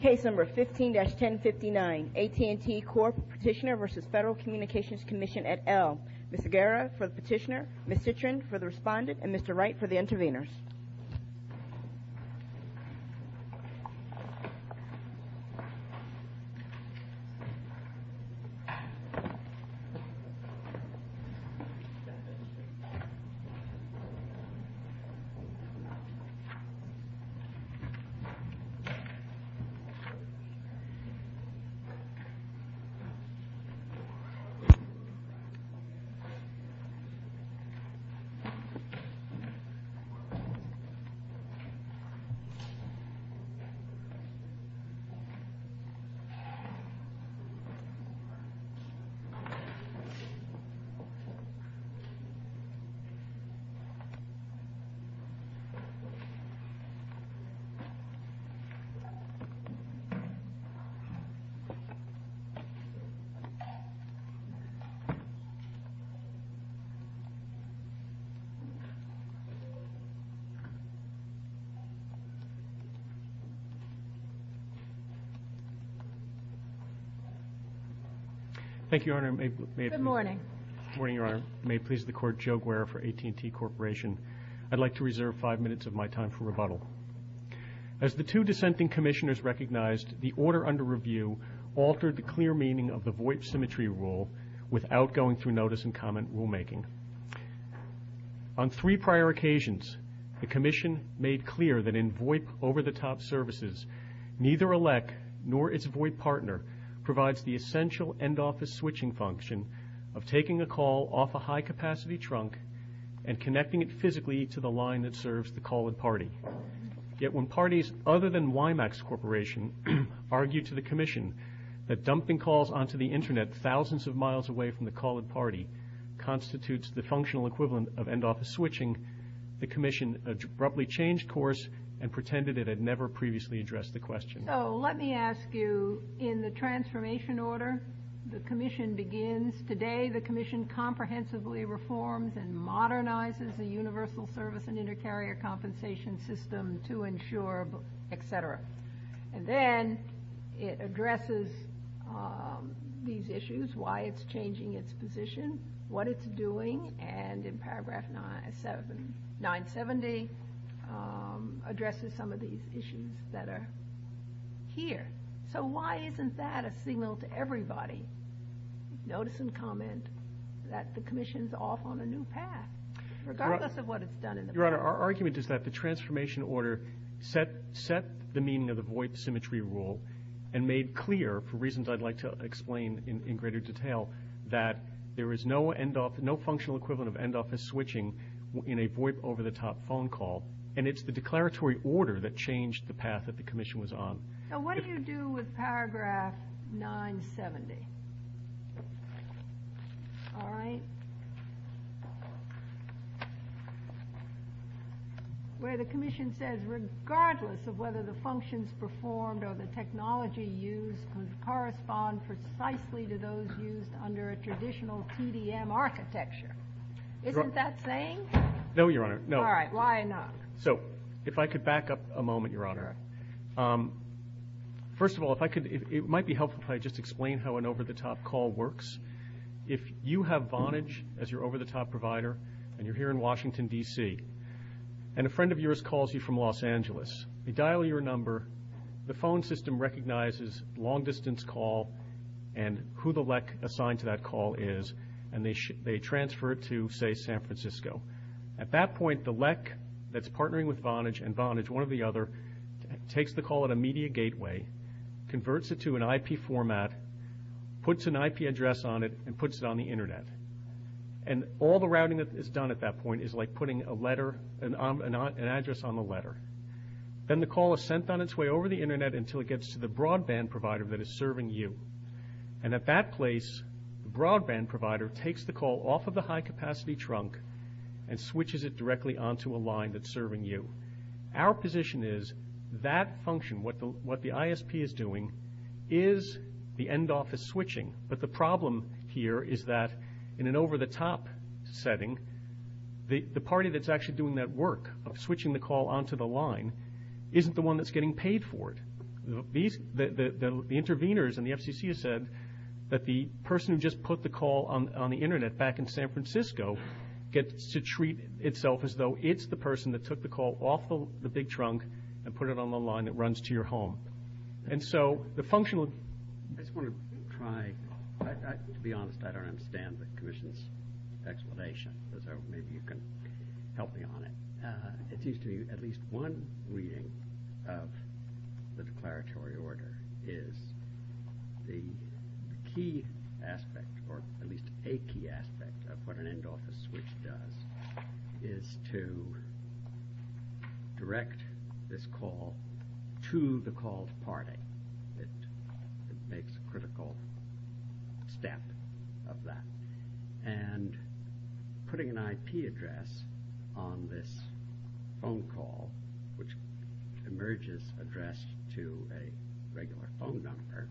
Case No. 15-1059, AT&T Corp. Petitioner v. Federal Communications Commission et al. Ms. Aguera for the petitioner, Ms. Citrin for the respondent, and Mr. Wright for the intervenors. Ms. Aguera for the petitioner, Ms. Citrin for the respondent, and Mr. Wright for the intervenors. Thank you, Your Honor. May it please the Court, Joe Guerra for AT&T Corporation. I'd like to reserve five minutes of my time for rebuttal. As the two dissenting Commissioners recognized, the order under review altered the clear meaning of the VOIP symmetry rule without going through notice and comment rulemaking. On three prior occasions, the Commission made clear that in VOIP over-the-top services, neither a LEC nor its VOIP partner provides the essential end-office switching function of taking a call off a high-capacity trunk and connecting it physically to the line that serves the call-in party. Yet when parties other than WIMAX Corporation argued to the Commission that dumping calls onto the Internet thousands of miles away from the call-in party constitutes the functional equivalent of end-office switching, the Commission abruptly changed course and pretended it had never previously addressed the question. So let me ask you, in the transformation order, the Commission begins. Today, the Commission comprehensively reforms and modernizes the universal service and inter-carrier compensation system to ensure, etc. And then it addresses these issues, why it's changing its position, what it's doing, and in paragraph 970 addresses some of these issues that are here. So why isn't that a signal to everybody, notice and comment, that the Commission's off on a new path, regardless of what it's done in the past? Our argument is that the transformation order set the meaning of the VOIP symmetry rule and made clear, for reasons I'd like to explain in greater detail, that there is no functional equivalent of end-office switching in a VOIP over-the-top phone call, and it's the declaratory order that changed the path that the Commission was on. So what do you do with paragraph 970? All right. Where the Commission says, regardless of whether the functions performed or the technology used would correspond precisely to those used under a traditional TDM architecture. Isn't that saying? No, Your Honor. All right. Why not? So if I could back up a moment, Your Honor. First of all, it might be helpful if I just explain how an over-the-top call works. If you have Vonage as your over-the-top provider and you're here in Washington, D.C., and a friend of yours calls you from Los Angeles, they dial your number, the phone system recognizes long-distance call and who the LEC assigned to that call is, and they transfer it to, say, San Francisco. At that point, the LEC that's partnering with Vonage and Vonage, one or the other, takes the call at a media gateway, converts it to an IP format, puts an IP address on it, and puts it on the Internet. And all the routing that is done at that point is like putting an address on the letter. Then the call is sent on its way over the Internet until it gets to the broadband provider that is serving you. And at that place, the broadband provider takes the call off of the high-capacity trunk and switches it directly onto a line that's serving you. Our position is that function, what the ISP is doing, is the end office switching. But the problem here is that in an over-the-top setting, the party that's actually doing that work of switching the call onto the line isn't the one that's getting paid for it. The interveners in the FCC have said that the person who just put the call on the Internet back in San Francisco gets to treat itself as though it's the person that took the call off the big trunk and put it on the line that runs to your home. And so the functional... I just want to try. To be honest, I don't understand the Commission's explanation. So maybe you can help me on it. It seems to me at least one reading of the declaratory order is the key aspect, or at least a key aspect of what an end office switch does, is to direct this call to the called party. It makes a critical step of that. And putting an IP address on this phone call, which emerges addressed to a regular phone number,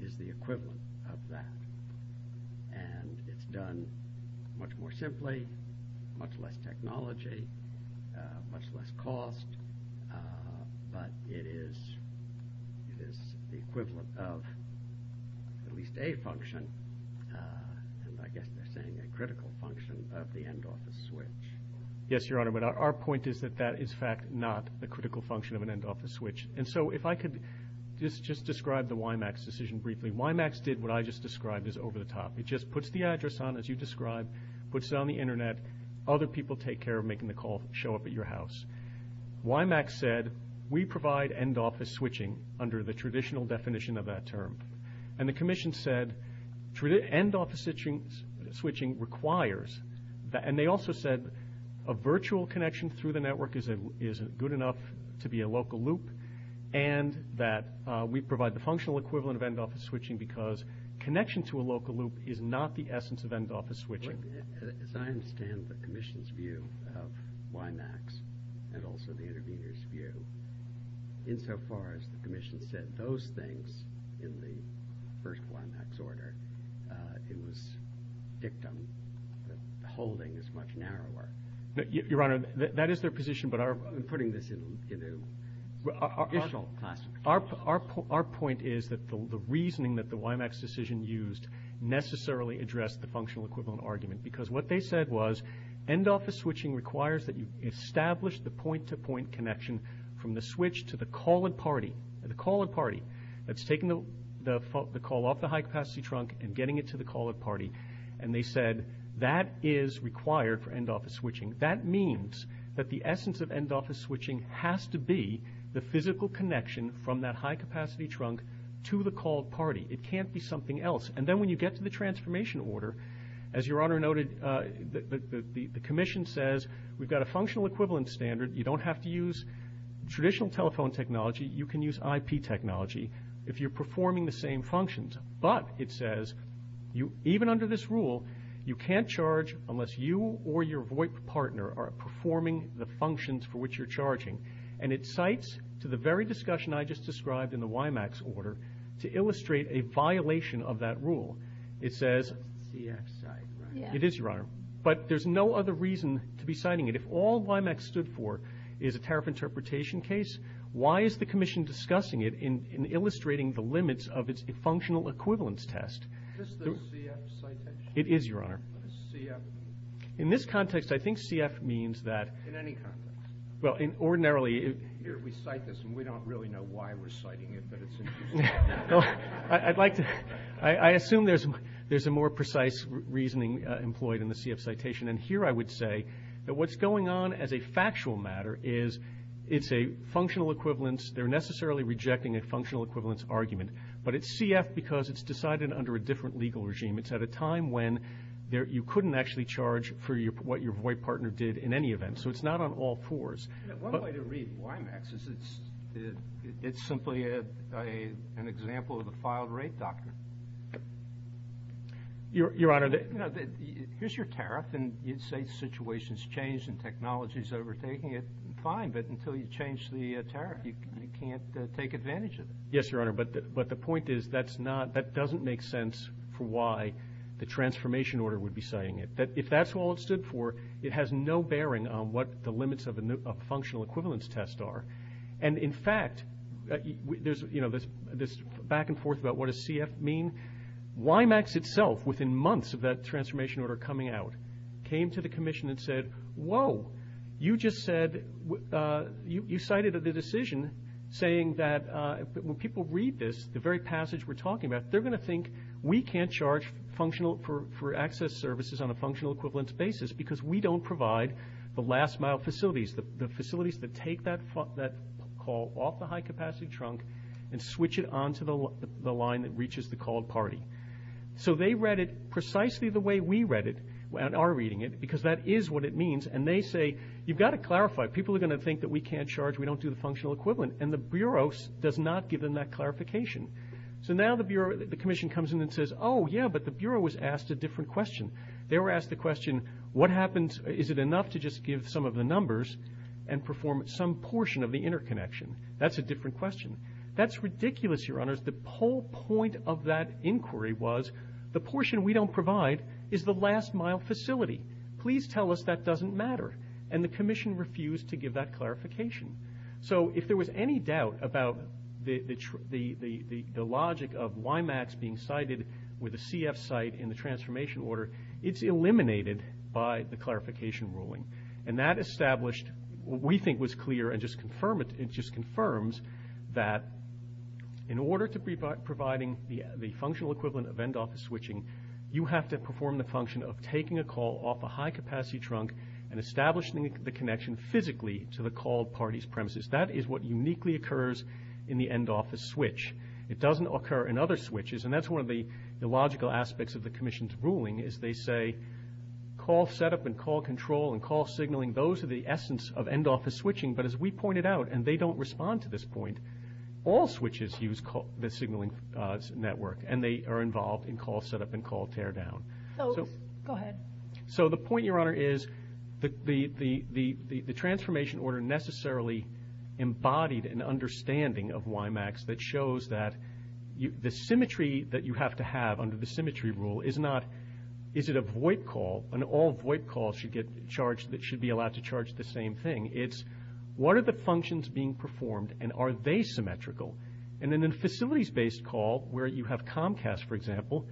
is the equivalent of that. And it's done much more simply, much less technology, much less cost, but it is the equivalent of at least a function, and I guess they're saying a critical function, of the end office switch. Yes, Your Honor, but our point is that that is in fact not the critical function of an end office switch. And so if I could just describe the WIMAX decision briefly. WIMAX did what I just described as over the top. It just puts the address on as you described, puts it on the Internet, other people take care of making the call show up at your house. WIMAX said, we provide end office switching under the traditional definition of that term. And the commission said, end office switching requires, and they also said a virtual connection through the network is good enough to be a local loop, and that we provide the functional equivalent of end office switching because connection to a local loop is not the essence of end office switching. As I understand the commission's view of WIMAX, and also the intervener's view, insofar as the commission said those things in the first WIMAX order, it was dictum that the holding is much narrower. Your Honor, that is their position, but our— I'm putting this in a partial classification. Our point is that the reasoning that the WIMAX decision used necessarily addressed the functional equivalent argument because what they said was end office switching requires that you establish the point-to-point connection from the switch to the call-at-party. The call-at-party, that's taking the call off the high-capacity trunk and getting it to the call-at-party. And they said that is required for end office switching. That means that the essence of end office switching has to be the physical connection from that high-capacity trunk to the call-at-party. It can't be something else. And then when you get to the transformation order, as Your Honor noted, the commission says we've got a functional equivalent standard. You don't have to use traditional telephone technology. You can use IP technology if you're performing the same functions. But, it says, even under this rule, you can't charge unless you or your VOIP partner are performing the functions for which you're charging. And it cites to the very discussion I just described in the WIMAX order to illustrate a violation of that rule. It's a CF site, right? It is, Your Honor. But there's no other reason to be citing it. If all WIMAX stood for is a tariff interpretation case, why is the commission discussing it and illustrating the limits of its functional equivalence test? Is this the CF citation? It is, Your Honor. In this context, I think CF means that... In any context? Well, ordinarily... Here, we cite this, and we don't really know why we're citing it, but it's interesting. I'd like to... I assume there's a more precise reasoning employed in the CF citation, and here I would say that what's going on as a factual matter is it's a functional equivalence. They're necessarily rejecting a functional equivalence argument, but it's CF because it's decided under a different legal regime. It's at a time when you couldn't actually charge for what your VOIP partner did in any event, so it's not on all fours. One way to read WIMAX is it's simply an example of a filed rate doctrine. Your Honor... Here's your tariff, and you'd say the situation's changed and technology's overtaking it. Fine, but until you change the tariff, you can't take advantage of it. Yes, Your Honor, but the point is that doesn't make sense for why the transformation order would be citing it. If that's all it stood for, it has no bearing on what the limits of a functional equivalence test are. And, in fact, there's this back and forth about what does CF mean. WIMAX itself, within months of that transformation order coming out, came to the commission and said, Whoa, you just said... You cited the decision saying that when people read this, the very passage we're talking about, they're going to think we can't charge for access services on a functional equivalence basis because we don't provide the last-mile facilities, the facilities that take that call off the high-capacity trunk and switch it onto the line that reaches the called party. So they read it precisely the way we read it and are reading it because that is what it means, and they say, You've got to clarify, people are going to think that we can't charge, we don't do the functional equivalent, and the Bureau does not give them that clarification. So now the commission comes in and says, Oh, yeah, but the Bureau was asked a different question. They were asked the question, What happens? Is it enough to just give some of the numbers and perform some portion of the interconnection? That's a different question. That's ridiculous, Your Honors. The whole point of that inquiry was, The portion we don't provide is the last-mile facility. Please tell us that doesn't matter. And the commission refused to give that clarification. So if there was any doubt about the logic of WIMAX being cited with a CF site in the transformation order, it's eliminated by the clarification ruling. And that established what we think was clear and just confirms that in order to be providing the functional equivalent of end-office switching, you have to perform the function of taking a call off a high-capacity trunk and establishing the connection physically to the called party's premises. That is what uniquely occurs in the end-office switch. It doesn't occur in other switches, and that's one of the logical aspects of the commission's ruling, is they say call setup and call control and call signaling, those are the essence of end-office switching. But as we pointed out, and they don't respond to this point, all switches use the signaling network, and they are involved in call setup and call teardown. So the point, Your Honor, is the transformation order necessarily embodied an understanding of WIMAX that shows that the symmetry that you have to have under the symmetry rule is not is it a VoIP call, and all VoIP calls should be allowed to charge the same thing. It's what are the functions being performed, and are they symmetrical? And in a facilities-based call where you have Comcast, for example,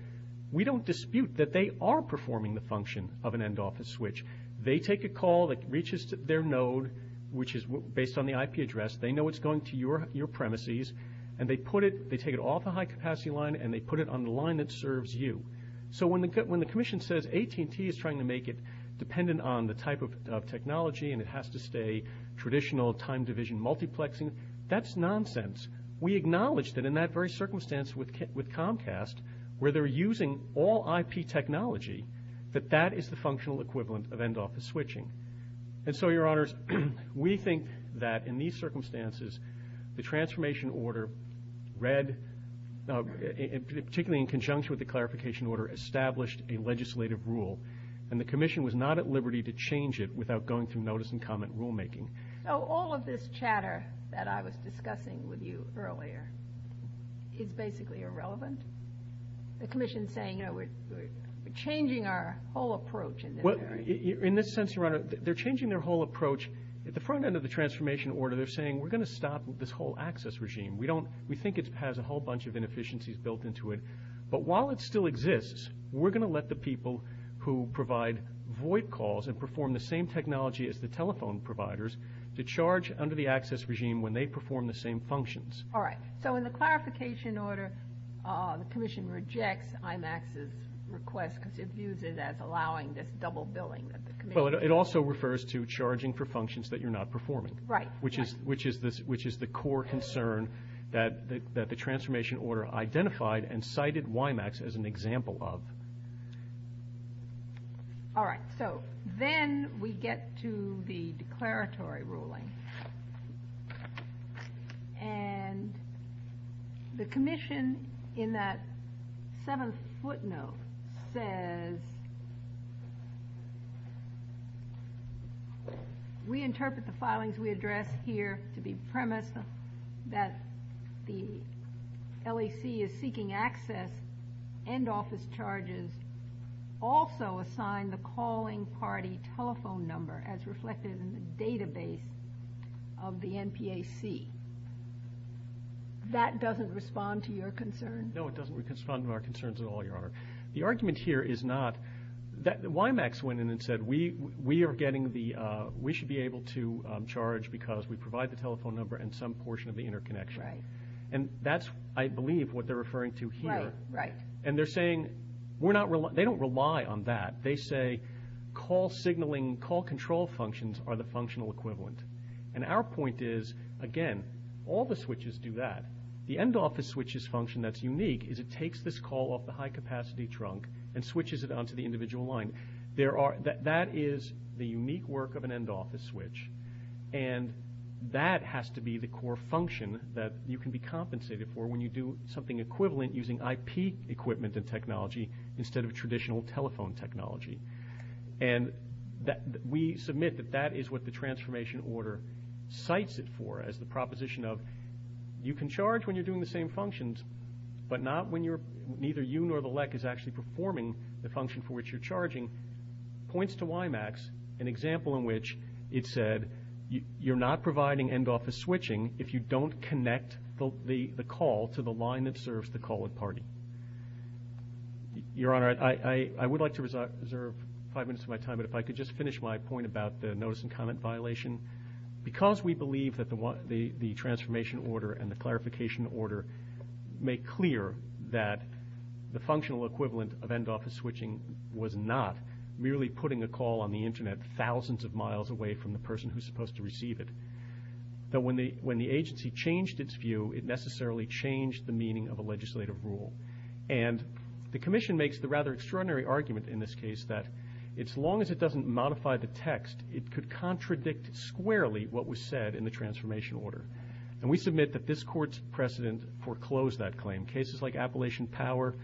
we don't dispute that they are performing the function of an end-office switch. They take a call that reaches their node, which is based on the IP address. They know it's going to your premises, and they take it off the high-capacity line and they put it on the line that serves you. So when the commission says AT&T is trying to make it dependent on the type of technology and it has to stay traditional time-division multiplexing, that's nonsense. We acknowledge that in that very circumstance with Comcast, where they're using all IP technology, that that is the functional equivalent of end-office switching. And so, Your Honors, we think that in these circumstances, the transformation order read, particularly in conjunction with the clarification order, established a legislative rule, and the commission was not at liberty to change it without going through notice and comment rulemaking. So all of this chatter that I was discussing with you earlier is basically irrelevant? The commission is saying, you know, we're changing our whole approach in this area. In this sense, Your Honor, they're changing their whole approach. At the front end of the transformation order, they're saying, we're going to stop this whole access regime. We think it has a whole bunch of inefficiencies built into it, but while it still exists, we're going to let the people who provide VoIP calls and perform the same technology as the telephone providers to charge under the access regime when they perform the same functions. All right. So in the clarification order, the commission rejects IMAX's request because it views it as allowing this double billing. Well, it also refers to charging for functions that you're not performing. Right. Which is the core concern that the transformation order identified and cited IMAX as an example of. All right. So then we get to the declaratory ruling. And the commission, in that seventh footnote, says, we interpret the filings we address here to be premise that the LAC is seeking access and office charges also assign the calling party telephone number as reflected in the database of the NPAC. That doesn't respond to your concern? No, it doesn't respond to our concerns at all, Your Honor. The argument here is not that IMAX went in and said we should be able to charge because we provide the telephone number and some portion of the interconnection. Right. And that's, I believe, what they're referring to here. Right, right. And they're saying they don't rely on that. They say call signaling, call control functions are the functional equivalent. And our point is, again, all the switches do that. The end office switches function that's unique is it takes this call off the high capacity trunk and switches it onto the individual line. That is the unique work of an end office switch. And that has to be the core function that you can be compensated for when you do something equivalent using IP equipment and technology instead of traditional telephone technology. And we submit that that is what the transformation order cites it for as the proposition of you can charge when you're doing the same functions, but neither you nor the LEC is actually performing the function for which you're charging, points to IMAX, an example in which it said you're not providing end office switching if you don't connect the call to the line that serves the call-in party. Your Honor, I would like to reserve five minutes of my time, but if I could just finish my point about the notice and comment violation. Because we believe that the transformation order and the clarification order make clear that the functional equivalent of end office switching was not merely putting a call on the Internet thousands of miles away from the person who's supposed to receive it, though when the agency changed its view, it necessarily changed the meaning of a legislative rule. And the Commission makes the rather extraordinary argument in this case that as long as it doesn't modify the text, it could contradict squarely what was said in the transformation order. And we submit that this Court's precedent foreclosed that claim. Cases like Appalachian Power,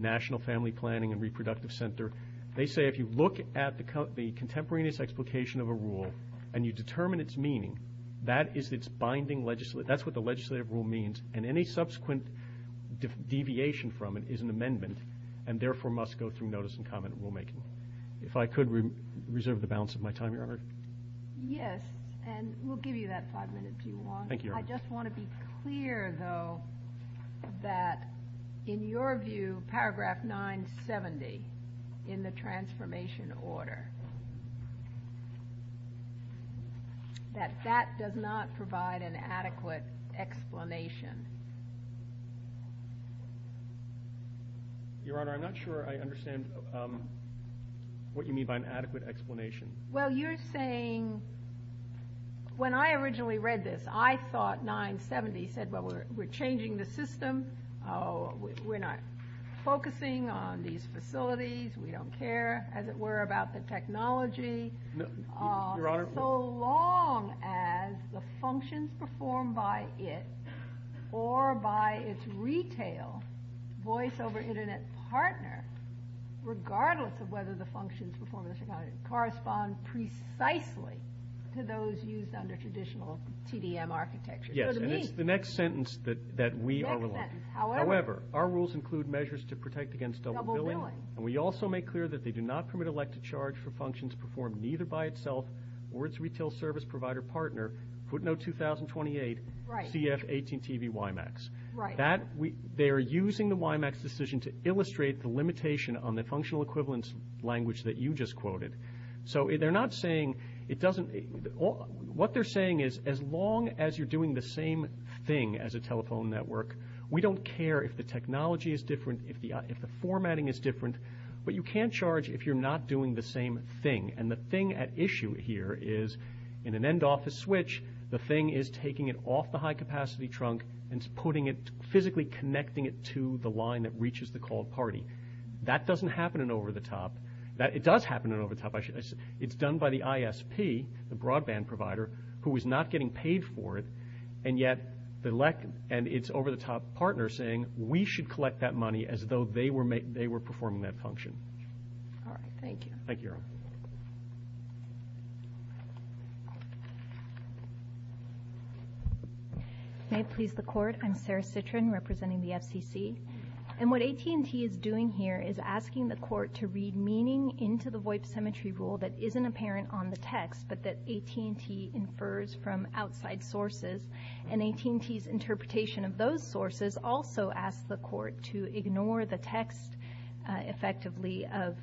National Family Planning and Reproductive Center, they say if you look at the contemporaneous explication of a rule and you determine its meaning, that's what the legislative rule means, and any subsequent deviation from it is an amendment and therefore must go through notice and comment rulemaking. If I could reserve the balance of my time, Your Honor. Yes, and we'll give you that five minutes if you want. Thank you, Your Honor. I just want to be clear, though, that in your view, in paragraph 970 in the transformation order, that that does not provide an adequate explanation. Your Honor, I'm not sure I understand what you mean by an adequate explanation. Well, you're saying when I originally read this, I thought 970 said, well, we're changing the system. We're not focusing on these facilities. We don't care, as it were, about the technology. No, Your Honor. So long as the functions performed by it or by its retail voice-over-internet partner, regardless of whether the functions performed by the technology correspond precisely to those used under traditional TDM architecture. Yes, and it's the next sentence that we are relying on. However, our rules include measures to protect against double billing, and we also make clear that they do not permit elected charge for functions performed neither by itself or its retail service provider partner, footnote 2028, CF-18TV-WiMAX. They are using the WiMAX decision to illustrate the limitation on the functional equivalence language that you just quoted. So they're not saying it doesn't – what they're saying is as long as you're doing the same thing as a telephone network, we don't care if the technology is different, if the formatting is different, but you can't charge if you're not doing the same thing. And the thing at issue here is in an end-office switch, the thing is taking it off the high-capacity trunk and physically connecting it to the line that reaches the call party. That doesn't happen in over-the-top. It does happen in over-the-top. It's done by the ISP, the broadband provider, who is not getting paid for it, and yet it's over-the-top partner saying we should collect that money as though they were performing that function. All right, thank you. Thank you, Your Honor. May it please the Court, I'm Sarah Citrin representing the FCC. And what AT&T is doing here is asking the Court to read meaning into the VoIP symmetry rule that isn't apparent on the text but that AT&T infers from outside sources. And AT&T's interpretation of those sources also asks the Court to ignore the text effectively of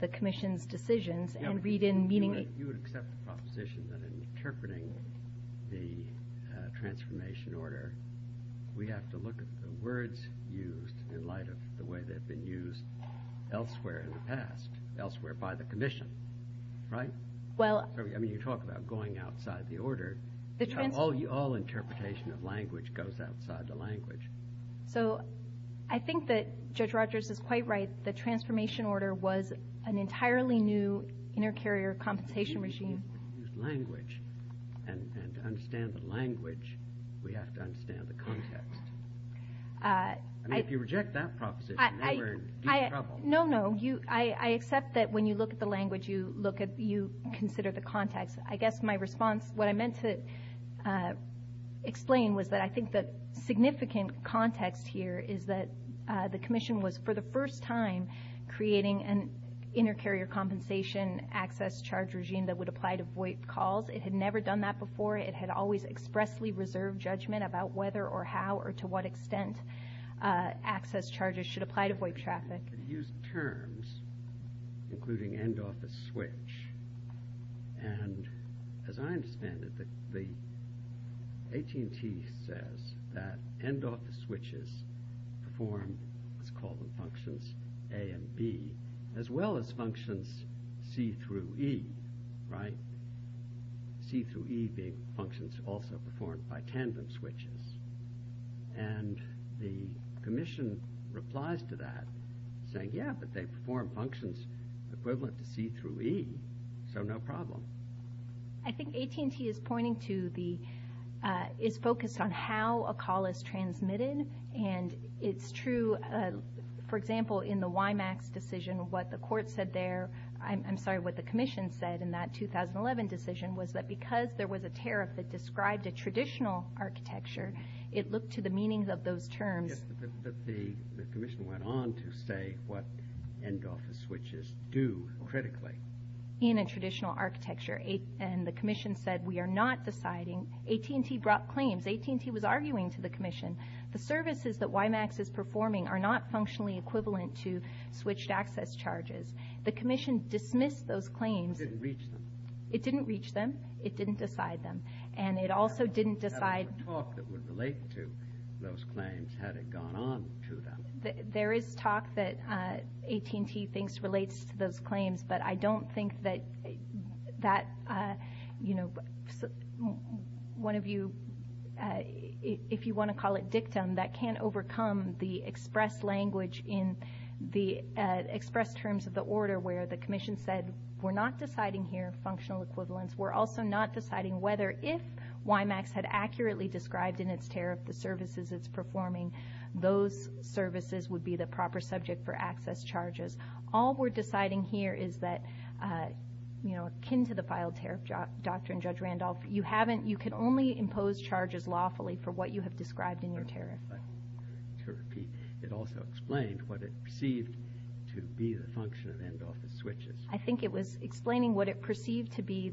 the Commission's decisions and read in meaning. You would accept the proposition that in interpreting the transformation order, we have to look at the words used in light of the way they've been used elsewhere in the past, elsewhere by the Commission, right? I mean, you talk about going outside the order. All interpretation of language goes outside the language. So I think that Judge Rogers is quite right. The transformation order was an entirely new inter-carrier compensation regime. Language, and to understand the language, we have to understand the context. I mean, if you reject that proposition, then we're in deep trouble. No, no. I accept that when you look at the language, you consider the context. I guess my response, what I meant to explain, was that I think the significant context here is that the Commission was for the first time creating an inter-carrier compensation access charge regime that would apply to VoIP calls. It had never done that before. It had always expressly reserved judgment about whether or how or to what extent access charges should apply to VoIP traffic. It used terms, including end-office switch. And as I understand it, the AT&T says that end-office switches perform, let's call them functions, A and B, as well as functions C through E, right? C through E being functions also performed by tandem switches. And the Commission replies to that saying, yeah, but they perform functions equivalent to C through E, so no problem. I think AT&T is pointing to the, is focused on how a call is transmitted. And it's true, for example, in the WIMAX decision, what the Commission said in that 2011 decision was that because there was a tariff that described a traditional architecture, it looked to the meanings of those terms. But the Commission went on to say what end-office switches do critically. In a traditional architecture. And the Commission said we are not deciding. AT&T brought claims. AT&T was arguing to the Commission. The services that WIMAX is performing are not functionally equivalent to switched access charges. The Commission dismissed those claims. It didn't reach them. It didn't decide them. And it also didn't decide. There was talk that would relate to those claims had it gone on to them. There is talk that AT&T thinks relates to those claims, but I don't think that, you know, one of you, if you want to call it dictum, that can't overcome the express language in the express terms of the order where the Commission said we're not deciding here functional equivalence. We're also not deciding whether if WIMAX had accurately described in its tariff the services it's performing, those services would be the proper subject for access charges. All we're deciding here is that, you know, akin to the filed tariff doctrine, Judge Randolph, you can only impose charges lawfully for what you have described in your tariff. To repeat, it also explained what it perceived to be the function of end office switches. I think it was explaining what it perceived to be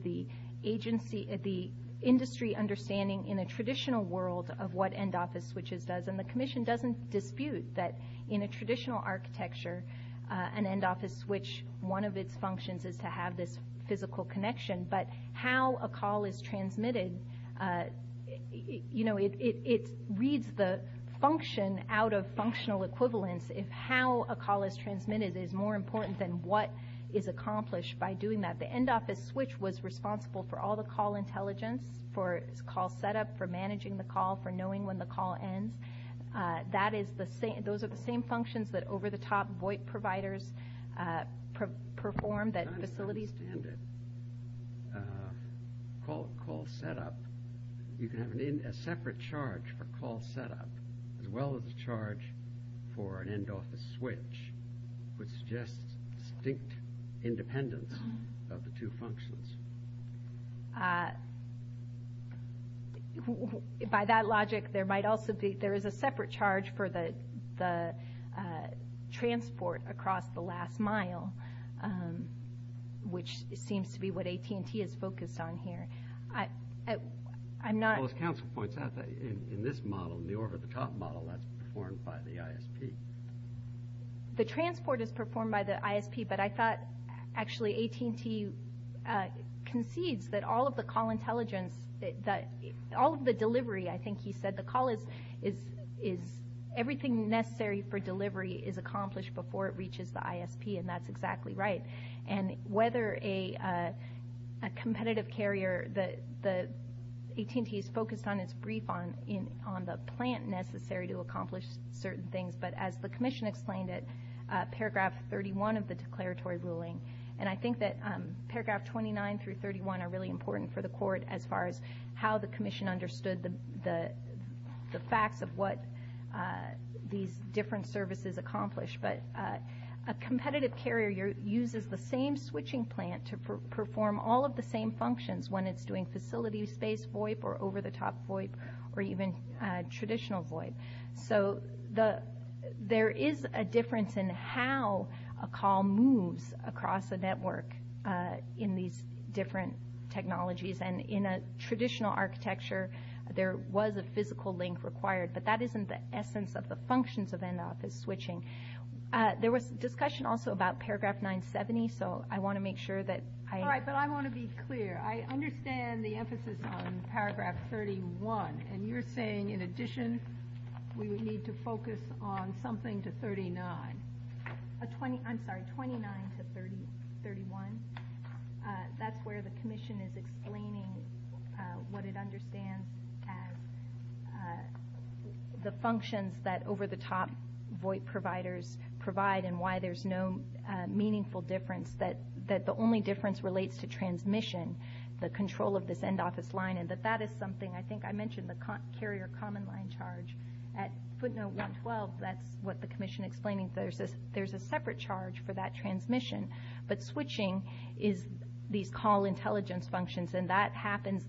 the industry understanding in a traditional world of what end office switches does. And the Commission doesn't dispute that in a traditional architecture, an end office switch, one of its functions is to have this physical connection. But how a call is transmitted, you know, it reads the function out of functional equivalence. How a call is transmitted is more important than what is accomplished by doing that. The end office switch was responsible for all the call intelligence, for call setup, for managing the call, for knowing when the call ends. Those are the same functions that over-the-top VoIP providers perform, that facilities... I don't understand it. Call setup, you can have a separate charge for call setup, as well as a charge for an end office switch, which suggests distinct independence of the two functions. By that logic, there is a separate charge for the transport across the last mile. Which seems to be what AT&T is focused on here. I'm not... Well, as counsel points out, in this model, the over-the-top model, that's performed by the ISP. The transport is performed by the ISP, but I thought actually AT&T concedes that all of the call intelligence, that all of the delivery, I think he said, the call is everything necessary for delivery is accomplished before it reaches the ISP, and that's exactly right. And whether a competitive carrier, AT&T is focused on its brief on the plan necessary to accomplish certain things, but as the commission explained it, paragraph 31 of the declaratory ruling, and I think that paragraph 29 through 31 are really important for the court as far as how the commission understood the facts of what these different services accomplish. But a competitive carrier uses the same switching plant to perform all of the same functions when it's doing facility space VoIP or over-the-top VoIP or even traditional VoIP. So there is a difference in how a call moves across a network in these different technologies, and in a traditional architecture, there was a physical link required, but that isn't the essence of the functions of in-office switching. There was discussion also about paragraph 970, so I want to make sure that I... All right, but I want to be clear. I understand the emphasis on paragraph 31, and you're saying in addition we would need to focus on something to 39. I'm sorry, 29 to 31. That's where the commission is explaining what it understands and the functions that over-the-top VoIP providers provide and why there's no meaningful difference, that the only difference relates to transmission, the control of this in-office line, and that that is something I think I mentioned, the carrier common line charge. At footnote 112, that's what the commission explained. There's a separate charge for that transmission, but switching is these call intelligence functions, and that happens.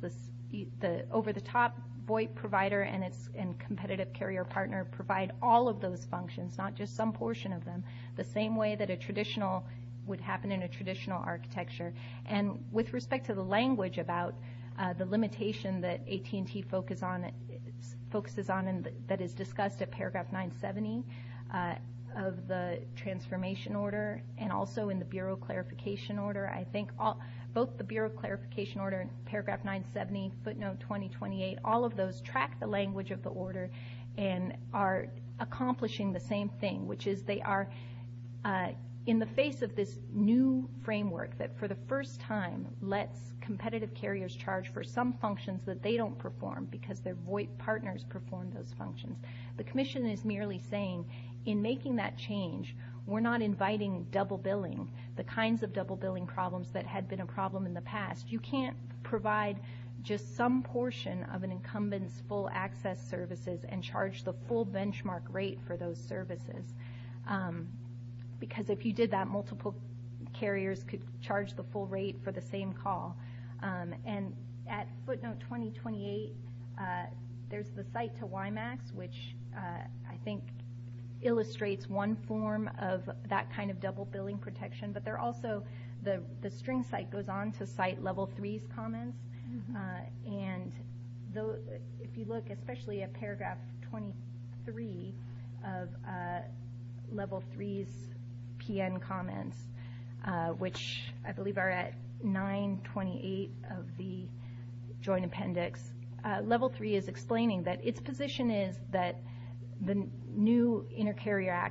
The over-the-top VoIP provider and its competitive carrier partner provide all of those functions, not just some portion of them, the same way that would happen in a traditional architecture. And with respect to the language about the limitation that AT&T focuses on and that is discussed at paragraph 970 of the transformation order and also in the Bureau of Clarification order, I think both the Bureau of Clarification order in paragraph 970, footnote 2028, all of those track the language of the order and are accomplishing the same thing, which is they are in the face of this new framework that for the first time lets competitive carriers charge for some functions that they don't perform because their VoIP partners perform those functions. The commission is merely saying in making that change, we're not inviting double billing, the kinds of double billing problems that had been a problem in the past. You can't provide just some portion of an incumbent's full access services and charge the full benchmark rate for those services because if you did that, multiple carriers could charge the full rate for the same call. And at footnote 2028, there's the site to WiMAX, which I think illustrates one form of that kind of double billing protection, but also the string site goes on to cite level 3's comments. And if you look, especially at paragraph 23 of level 3's PN comments, which I believe are at 928 of the joint appendix, level 3 is explaining that its position is that the new inter-carrier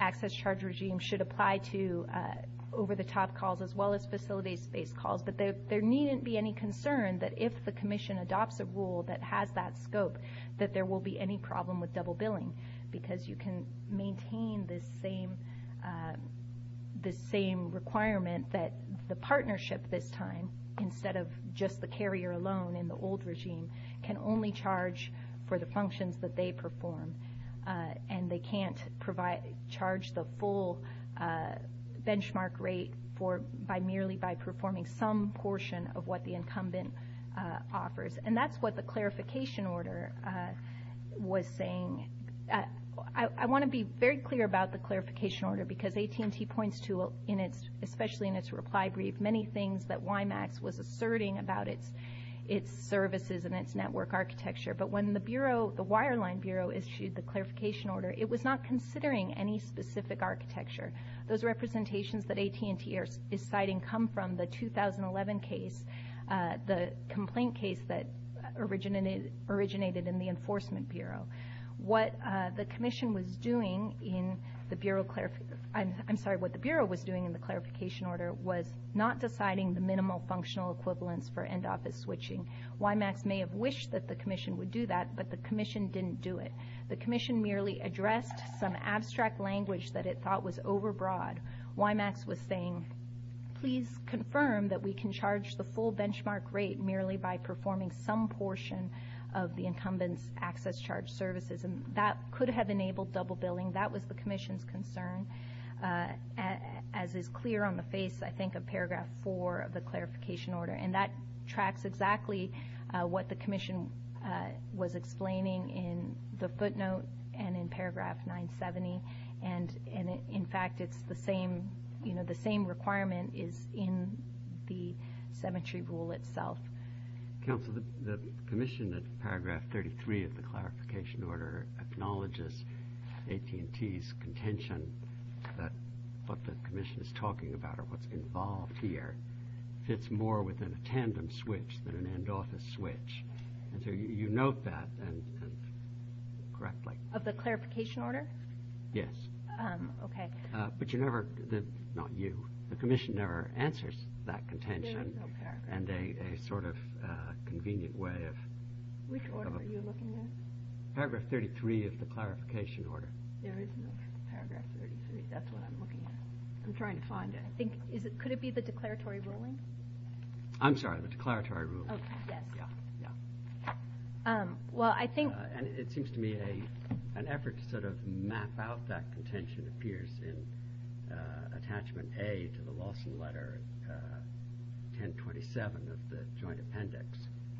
access charge regime should apply to over-the-top calls as well as facilities-based calls, but there needn't be any concern that if the commission adopts a rule that has that scope, that there will be any problem with double billing because you can maintain this same requirement that the partnership this time, instead of just the carrier alone in the old regime, can only charge for the functions that they perform and they can't charge the full benchmark rate merely by performing some portion of what the incumbent offers. And that's what the clarification order was saying. I want to be very clear about the clarification order because AT&T points to, especially in its reply brief, many things that WIMAX was asserting about its services and its network architecture, but when the Wireline Bureau issued the clarification order, it was not considering any specific architecture. Those representations that AT&T is citing come from the 2011 case, the complaint case that originated in the Enforcement Bureau. What the Bureau was doing in the clarification order was not deciding the minimal functional equivalence for end-office switching. WIMAX may have wished that the commission would do that, but the commission didn't do it. The commission merely addressed some abstract language that it thought was overbroad. WIMAX was saying, please confirm that we can charge the full benchmark rate merely by performing some portion of the incumbent's access charge services. That could have enabled double billing. That was the commission's concern, as is clear on the face, I think, of paragraph 4 of the clarification order. And that tracks exactly what the commission was explaining in the footnote and in paragraph 970. In fact, the same requirement is in the cemetery rule itself. Council, the commission in paragraph 33 of the clarification order acknowledges AT&T's contention that what the commission is talking about or what's involved here fits more within a tandem switch than an end-office switch. Do you note that correctly? Of the clarification order? Yes. Okay. But you never, not you, the commission never answers that contention. There is no paragraph. And a sort of convenient way of... Which order are you looking at? Paragraph 33 of the clarification order. There is no paragraph 33. That's what I'm looking at. I'm trying to find it. Could it be the declaratory ruling? I'm sorry, the declaratory ruling. Oh, yes. Yeah, yeah. Well, I think... And it seems to me an effort to sort of map out that contention appears in attachment A to the Lawson letter 1027 of the joint appendix.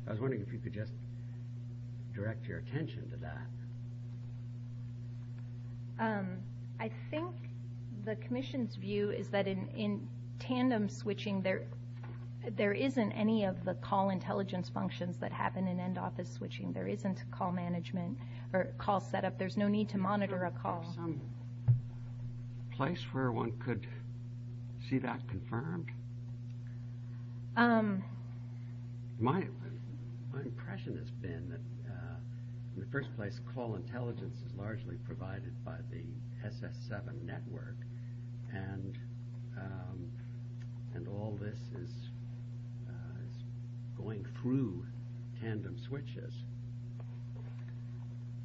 I was wondering if you could just direct your attention to that. I think the commission's view is that in tandem switching, there isn't any of the call intelligence functions that happen in end-office switching. There isn't call management or call setup. There's no need to monitor a call. Is there some place where one could see that confirmed? My impression has been that, in the first place, call intelligence is largely provided by the SS7 network and all this is going through tandem switches.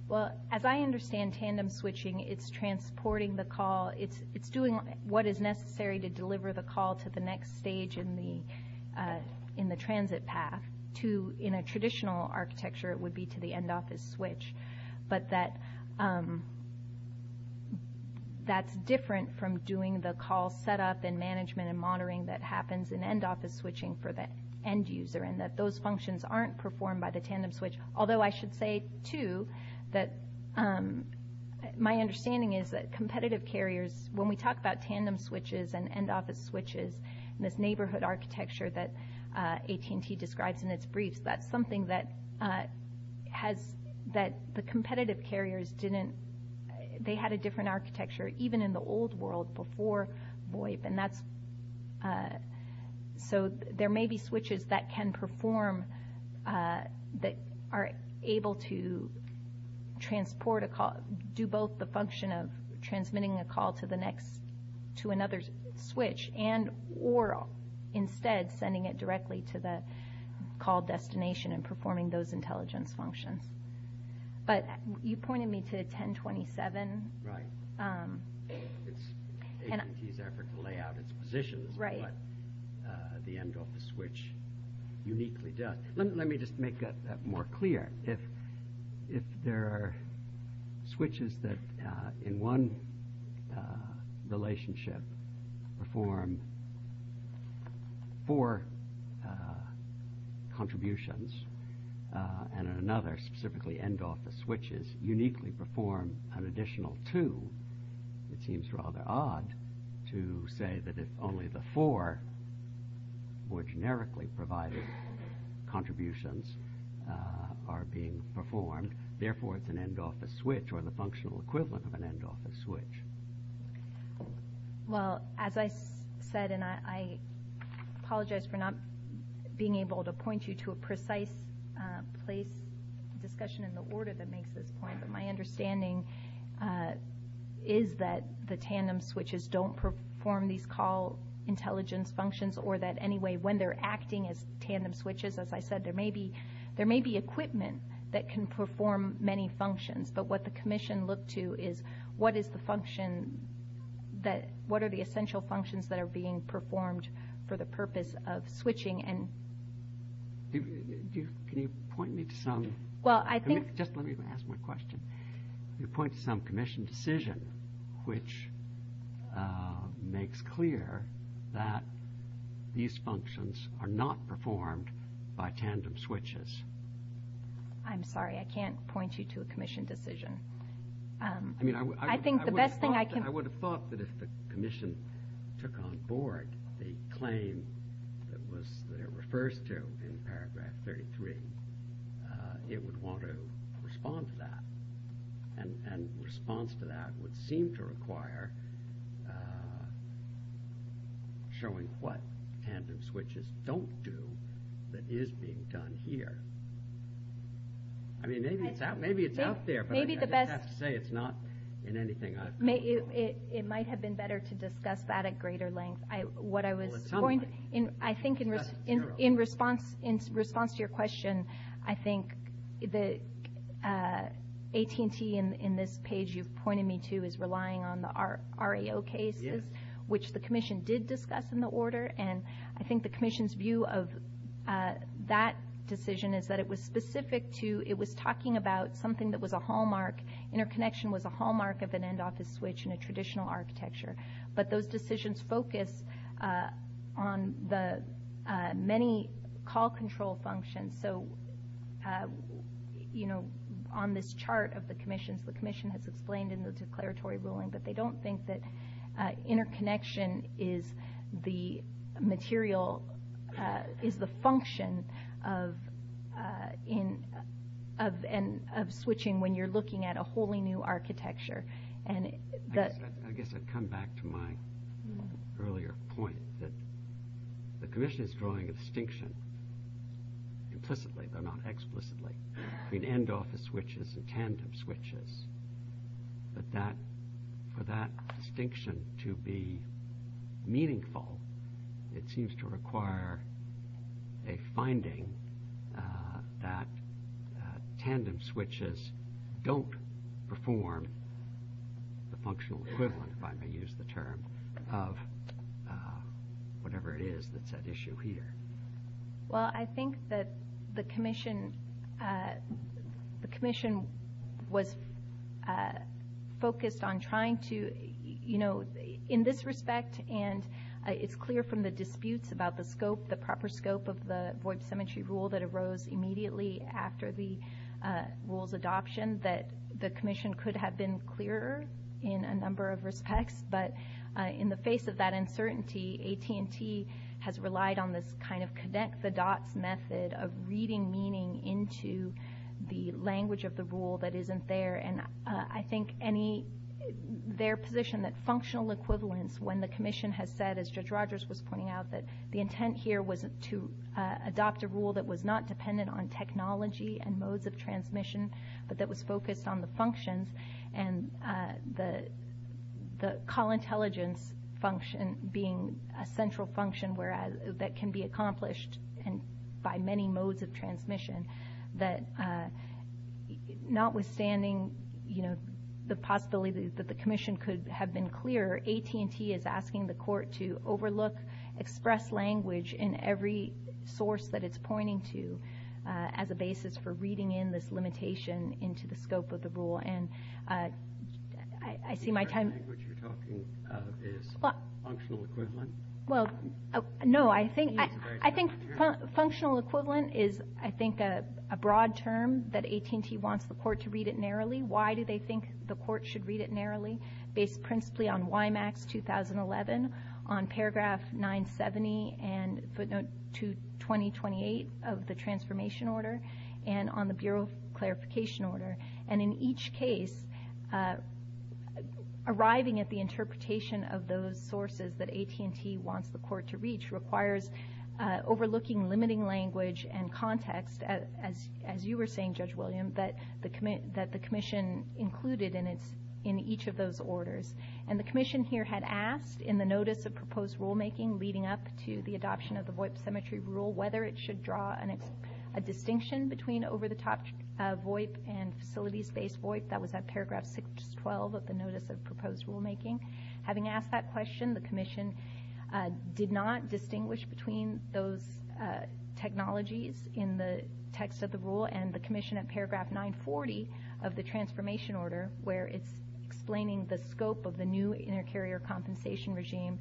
Well, as I understand tandem switching, it's transporting the call. It's doing what is necessary to deliver the call to the next stage in the transit path. In a traditional architecture, it would be to the end-office switch. But that's different from doing the call setup and management and monitoring that happens in end-office switching for the end user and that those functions aren't performed by the tandem switch. Although I should say, too, that my understanding is that competitive carriers, when we talk about tandem switches and end-office switches in this neighborhood architecture that AT&T describes in its briefs, that's something that the competitive carriers didn't. They had a different architecture even in the old world before VOIP. So there may be switches that can perform, that are able to transport a call, do both the function of transmitting a call to another switch and or instead sending it directly to the call destination and performing those intelligence functions. But you pointed me to 1027. Right. It's AT&T's effort to lay out its positions, but the end-office switch uniquely does. Let me just make that more clear. If there are switches that in one relationship perform four contributions and in another, specifically end-office switches, uniquely perform an additional two, it seems rather odd to say that if only the four more generically provided contributions are being performed, therefore it's an end-office switch or the functional equivalent of an end-office switch. Well, as I said, and I apologize for not being able to point you to a precise place, a discussion in the order that makes this point, but my understanding is that the tandem switches don't perform these call intelligence functions or that anyway when they're acting as tandem switches, as I said, there may be equipment that can perform many functions. But what the commission looked to is what are the essential functions that are being performed for the purpose of switching. Can you point me to some? Just let me ask one question. You pointed to some commission decision, which makes clear that these functions are not performed by tandem switches. I'm sorry, I can't point you to a commission decision. I would have thought that if the commission took on board the claim that it refers to in paragraph 33, it would want to respond to that. And response to that would seem to require showing what tandem switches don't do that is being done here. I mean, maybe it's out there, but I just have to say it's not in anything I've come across. It might have been better to discuss that at greater length. I think in response to your question, I think the AT&T in this page you've pointed me to is relying on the REO cases, which the commission did discuss in the order. And I think the commission's view of that decision is that it was specific to, it was talking about something that was a hallmark. Interconnection was a hallmark of an end office switch in a traditional architecture. But those decisions focus on the many call control functions. So on this chart of the commissions, the commission has explained in the declaratory ruling that they don't think that interconnection is the material, is the function of switching when you're looking at a wholly new architecture. I guess I'd come back to my earlier point that the commission is drawing a distinction implicitly, though not explicitly, between end office switches and tandem switches. But for that distinction to be meaningful, it seems to require a finding that tandem switches don't perform the functional equivalent, if I may use the term, of whatever it is that's at issue here. Well, I think that the commission was focused on trying to, in this respect, and it's clear from the disputes about the scope, the proper scope of the void symmetry rule that arose immediately after the rule's adoption, that the commission could have been clearer in a number of respects. But in the face of that uncertainty, AT&T has relied on this kind of connect the dots method of reading meaning into the language of the rule that isn't there. And I think their position that functional equivalence, when the commission has said, as Judge Rogers was pointing out, that the intent here was to adopt a rule that was not dependent on technology and modes of transmission, but that was focused on the functions and the call intelligence function being a central function that notwithstanding the possibility that the commission could have been clearer, AT&T is asking the court to overlook express language in every source that it's pointing to as a basis for reading in this limitation into the scope of the rule. And I see my time... The language you're talking of is functional equivalent? Well, no, I think functional equivalent is, I think, a broad term that AT&T wants the court to read it narrowly. Why do they think the court should read it narrowly? Based principally on WIMAX 2011, on paragraph 970 and footnote 228 of the transformation order, and on the bureau clarification order. And in each case, arriving at the interpretation of those sources that AT&T wants the court to reach requires overlooking limiting language and context, as you were saying, Judge William, that the commission included in each of those orders. And the commission here had asked in the notice of proposed rulemaking leading up to the adoption of the VOIP symmetry rule whether it should draw a distinction between over-the-top VOIP and facilities-based VOIP. That was at paragraph 612 of the notice of proposed rulemaking. Having asked that question, the commission did not distinguish between those technologies in the text of the rule, and the commission at paragraph 940 of the transformation order, where it's explaining the scope of the new inter-carrier compensation regime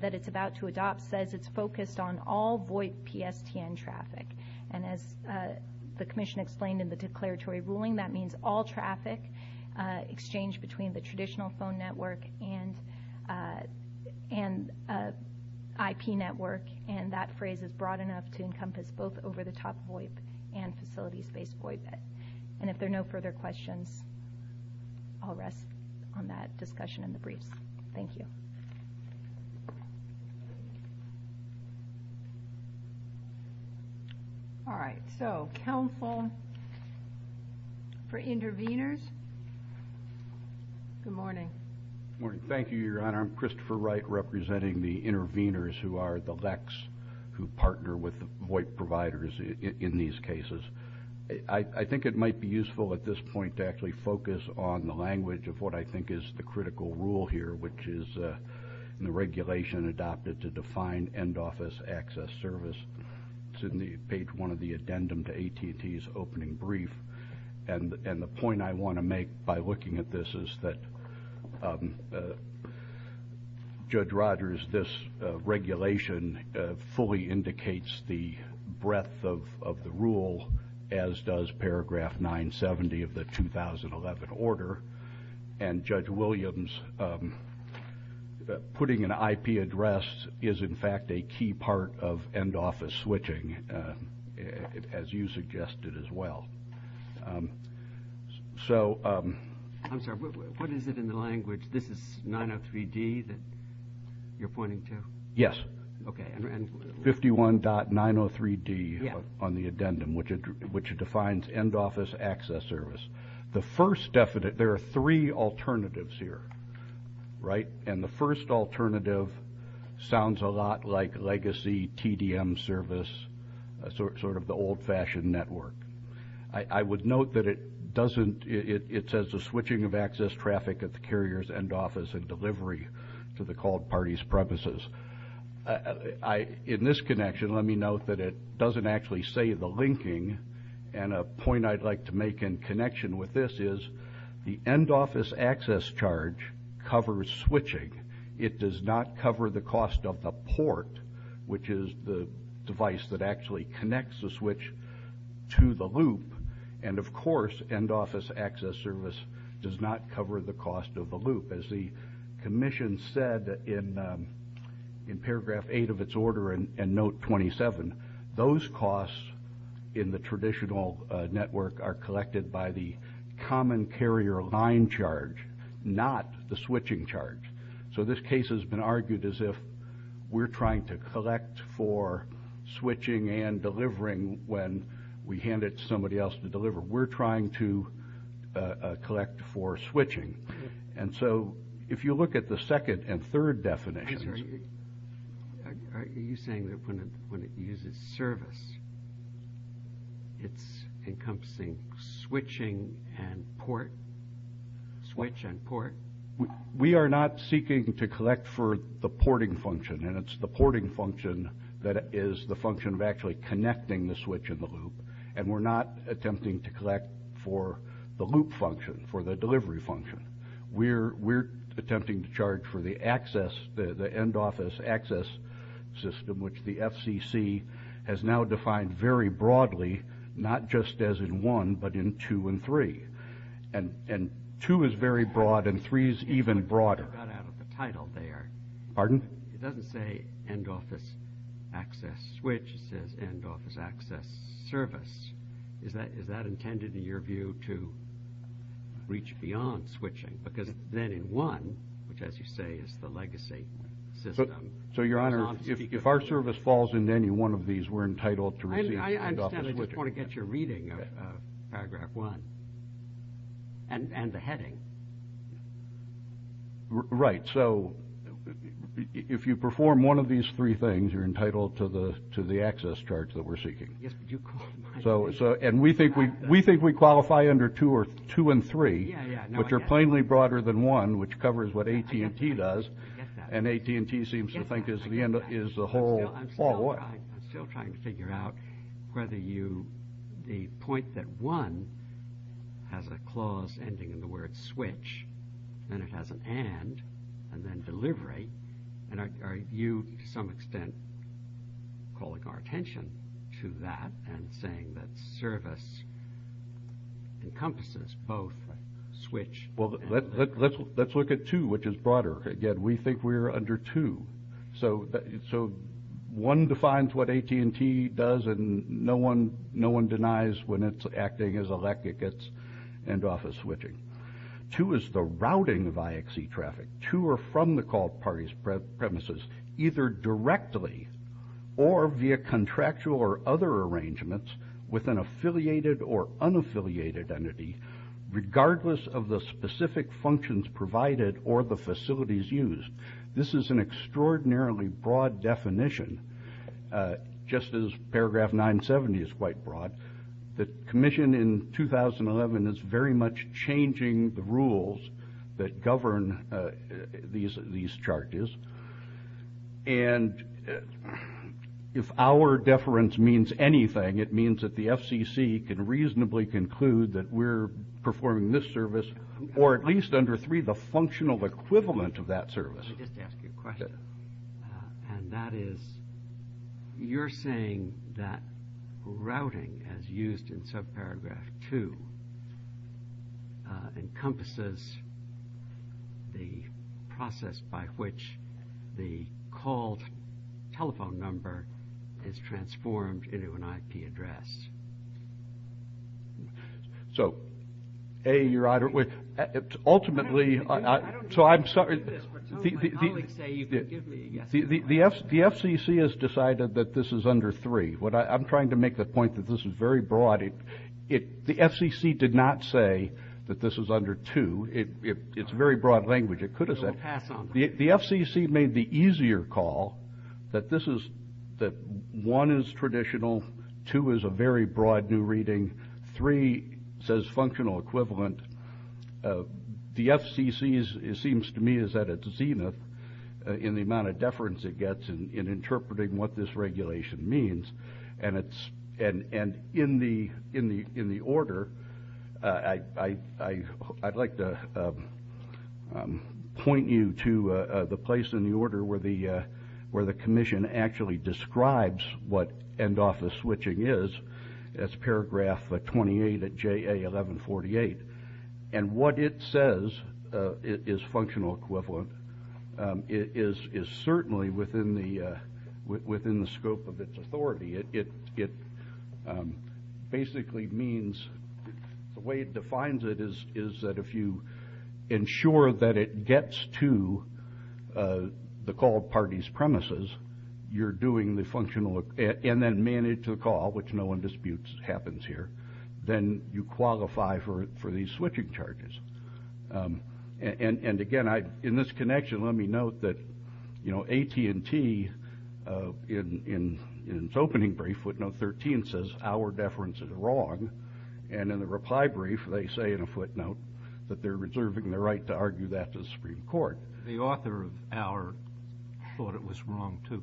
that it's about to adopt, says it's focused on all VOIP PSTN traffic. And as the commission explained in the declaratory ruling, that means all traffic exchanged between the traditional phone network and IP network, and that phrase is broad enough to encompass both over-the-top VOIP and facilities-based VOIP. And if there are no further questions, I'll rest on that discussion in the briefs. Thank you. All right. So, counsel for interveners. Good morning. Good morning. Thank you, Your Honor. I'm Christopher Wright representing the interveners who are the LECs who partner with the VOIP providers in these cases. I think it might be useful at this point to actually focus on the language of what I think is the critical rule here, which is in the regulation adopted to define end-office access service. It's in page one of the addendum to AT&T's opening brief. And the point I want to make by looking at this is that, Judge Rogers, this regulation fully indicates the breadth of the rule, as does paragraph 970 of the 2011 order. And, Judge Williams, putting an IP address is, in fact, a key part of end-office switching, as you suggested as well. I'm sorry. What is it in the language? This is 903D that you're pointing to? Yes. Okay. 51.903D on the addendum, which defines end-office access service. There are three alternatives here, right? And the first alternative sounds a lot like legacy TDM service, sort of the old-fashioned network. I would note that it says the switching of access traffic at the carrier's end office and delivery to the called party's premises. In this connection, let me note that it doesn't actually say the linking. And a point I'd like to make in connection with this is the end-office access charge covers switching. It does not cover the cost of the port, which is the device that actually connects the switch to the loop. And, of course, end-office access service does not cover the cost of the loop. As the commission said in paragraph 8 of its order and note 27, those costs in the traditional network are collected by the common carrier line charge, not the switching charge. So this case has been argued as if we're trying to collect for switching and delivering when we hand it to somebody else to deliver. We're trying to collect for switching. And so if you look at the second and third definitions. Are you saying that when it uses service, it's encompassing switching and port? Switch and port. We are not seeking to collect for the porting function, and it's the porting function that is the function of actually connecting the switch and the loop, and we're not attempting to collect for the loop function, for the delivery function. We're attempting to charge for the access, the end-office access system, which the FCC has now defined very broadly, not just as in 1, but in 2 and 3. And 2 is very broad, and 3 is even broader. I got out of the title there. Pardon? It doesn't say end-office access switch. It says end-office access service. Is that intended, in your view, to reach beyond switching? Because then in 1, which, as you say, is the legacy system. So, Your Honor, if our service falls into any one of these, we're entitled to receive end-office switching. I understand. I just want to get your reading of Paragraph 1 and the heading. Right. So if you perform one of these three things, you're entitled to the access charge that we're seeking. And we think we qualify under 2 and 3, which are plainly broader than 1, which covers what AT&T does, and AT&T seems to think is the whole. I'm still trying to figure out whether the point that 1 has a clause ending in the word switch, and it has an and, and then delivery, and are you, to some extent, calling our attention to that Well, let's look at 2, which is broader. Again, we think we are under 2. So 1 defines what AT&T does, and no one denies when it's acting as a lack of its end-office switching. 2 is the routing of IXE traffic to or from the call party's premises, either directly or via contractual or other arrangements with an affiliated or unaffiliated entity, regardless of the specific functions provided or the facilities used. This is an extraordinarily broad definition, just as paragraph 970 is quite broad. The commission in 2011 is very much changing the rules that govern these charges, and if our deference means anything, it means that the FCC can reasonably conclude that we're performing this service, or at least under 3, the functional equivalent of that service. Let me just ask you a question, and that is, you're saying that routing, as used in subparagraph 2, encompasses the process by which the called telephone number is transformed into an IP address. So, A, Your Honor, ultimately, so I'm sorry. The FCC has decided that this is under 3. I'm trying to make the point that this is very broad. The FCC did not say that this is under 2. It's very broad language. It could have said. The FCC made the easier call that 1 is traditional, 2 is a very broad new reading, 3 says functional equivalent. The FCC, it seems to me, is at its zenith in the amount of deference it gets in interpreting what this regulation means. And in the order, I'd like to point you to the place in the order where the commission actually describes what end-office switching is. It's paragraph 28 of JA 1148. And what it says is functional equivalent. It is certainly within the scope of its authority. It basically means, the way it defines it is that if you ensure that it gets to the called party's premises, you're doing the functional, and then manage the call, which no one disputes happens here, then you qualify for these switching charges. And, again, in this connection, let me note that AT&T, in its opening brief, footnote 13, says our deference is wrong. And in the reply brief, they say in a footnote that they're reserving the right to argue that to the Supreme Court. The author of our thought it was wrong, too.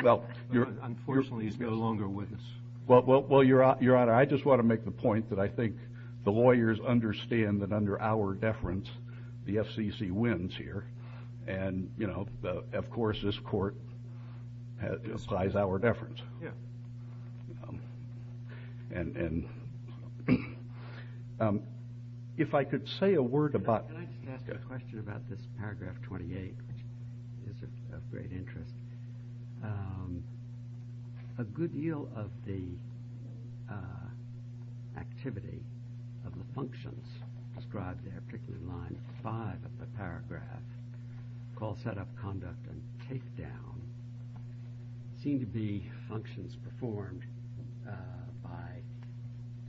Unfortunately, he's no longer with us. Well, Your Honor, I just want to make the point that I think the lawyers understand that under our deference, the FCC wins here. And, you know, of course, this court applies our deference. Yeah. And if I could say a word about – Can I just ask a question about this paragraph 28, which is of great interest? A good deal of the activity of the functions described there, particularly in line 5 of the paragraph, call setup, conduct, and takedown, seem to be functions performed by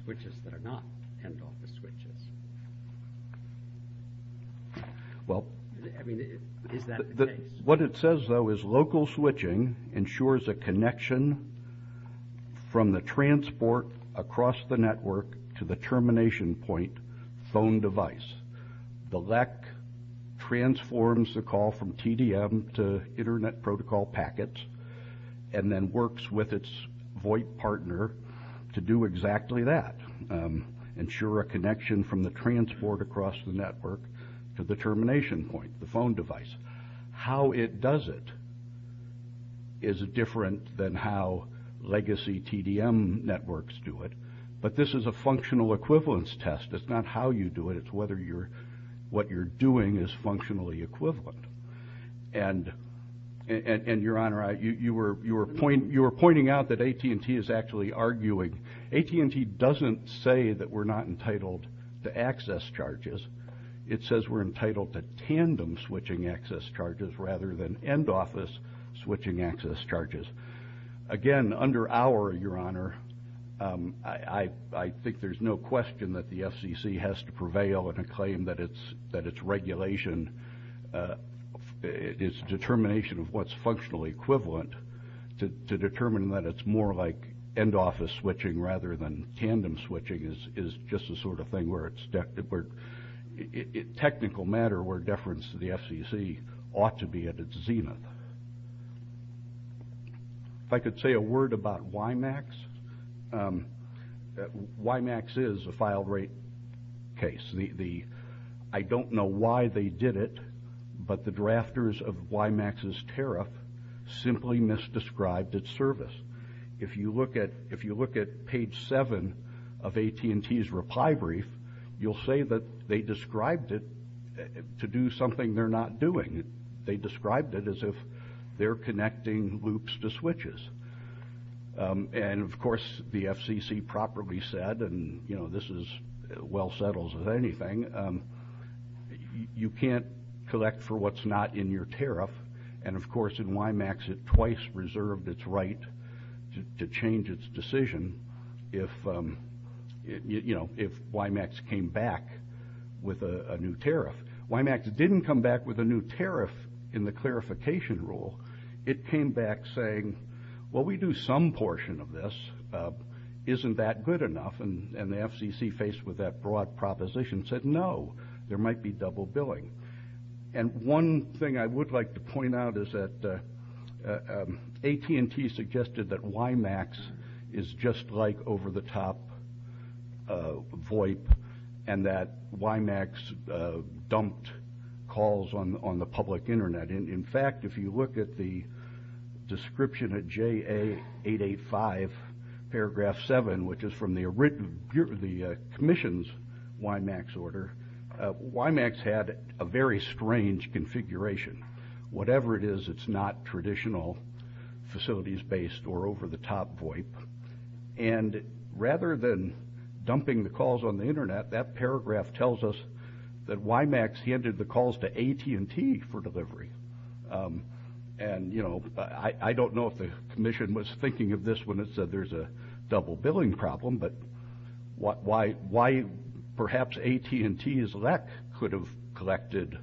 switches that are not end office switches. Well, I mean, is that the case? What it says, though, is local switching ensures a connection from the transport across the network to the termination point phone device. The LEC transforms the call from TDM to Internet Protocol packets and then works with its VOIP partner to do exactly that, ensure a connection from the transport across the network to the termination point, the phone device. How it does it is different than how legacy TDM networks do it. But this is a functional equivalence test. It's not how you do it. It's whether what you're doing is functionally equivalent. And, Your Honor, you were pointing out that AT&T is actually arguing – AT&T doesn't say that we're not entitled to access charges. It says we're entitled to tandem switching access charges rather than end office switching access charges. Again, under our, Your Honor, I think there's no question that the FCC has to prevail in a claim that its regulation, its determination of what's functionally equivalent to determine that it's more like end office switching rather than tandem switching is just the sort of thing where it's technical matter where deference to the FCC ought to be at its zenith. If I could say a word about WiMAX. WiMAX is a filed rate case. I don't know why they did it, but the drafters of WiMAX's tariff simply misdescribed its service. If you look at page 7 of AT&T's reply brief, you'll see that they described it to do something they're not doing. They described it as if they're connecting loops to switches. And, of course, the FCC properly said, and, you know, this is as well settled as anything, you can't collect for what's not in your tariff. And, of course, in WiMAX it twice reserved its right to change its decision if, you know, if WiMAX came back with a new tariff. WiMAX didn't come back with a new tariff in the clarification rule. It came back saying, well, we do some portion of this. Isn't that good enough? And the FCC, faced with that broad proposition, said, no, there might be double billing. And one thing I would like to point out is that AT&T suggested that WiMAX is just like over-the-top VoIP and that WiMAX dumped calls on the public Internet. In fact, if you look at the description at JA885, paragraph 7, which is from the Commission's WiMAX order, WiMAX had a very strange configuration. Whatever it is, it's not traditional facilities-based or over-the-top VoIP. And rather than dumping the calls on the Internet, that paragraph tells us that WiMAX handed the calls to AT&T for delivery. And, you know, I don't know if the Commission was thinking of this when it said there's a double billing problem, but why perhaps AT&T's LEC could have collected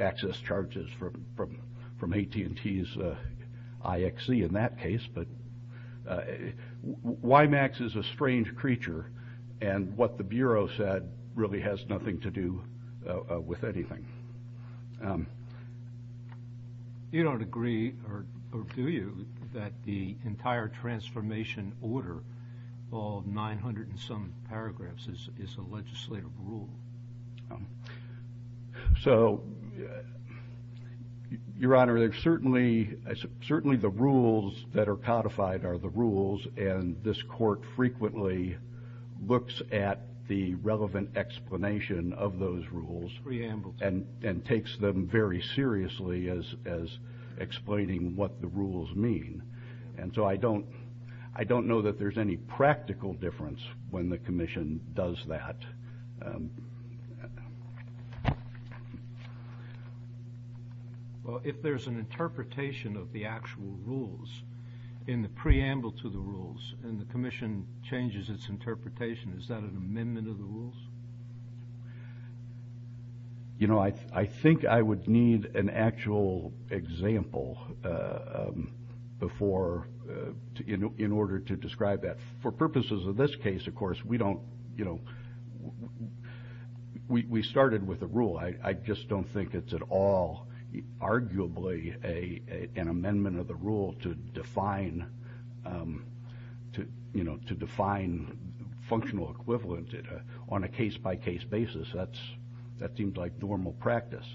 access charges from AT&T's IXE in that case. But WiMAX is a strange creature, and what the Bureau said really has nothing to do with anything. You don't agree, or do you, that the entire transformation order of 900 and some paragraphs is a legislative rule? So, Your Honor, certainly the rules that are codified are the rules, and this Court frequently looks at the relevant explanation of those rules. Preambles. And takes them very seriously as explaining what the rules mean. And so I don't know that there's any practical difference when the Commission does that. Well, if there's an interpretation of the actual rules in the preamble to the rules, and the Commission changes its interpretation, is that an amendment of the rules? You know, I think I would need an actual example before, in order to describe that. For purposes of this case, of course, we don't, you know, we started with a rule. I just don't think it's at all, arguably, an amendment of the rule to define, you know, to define functional equivalent on a case-by-case basis. That seems like normal practice.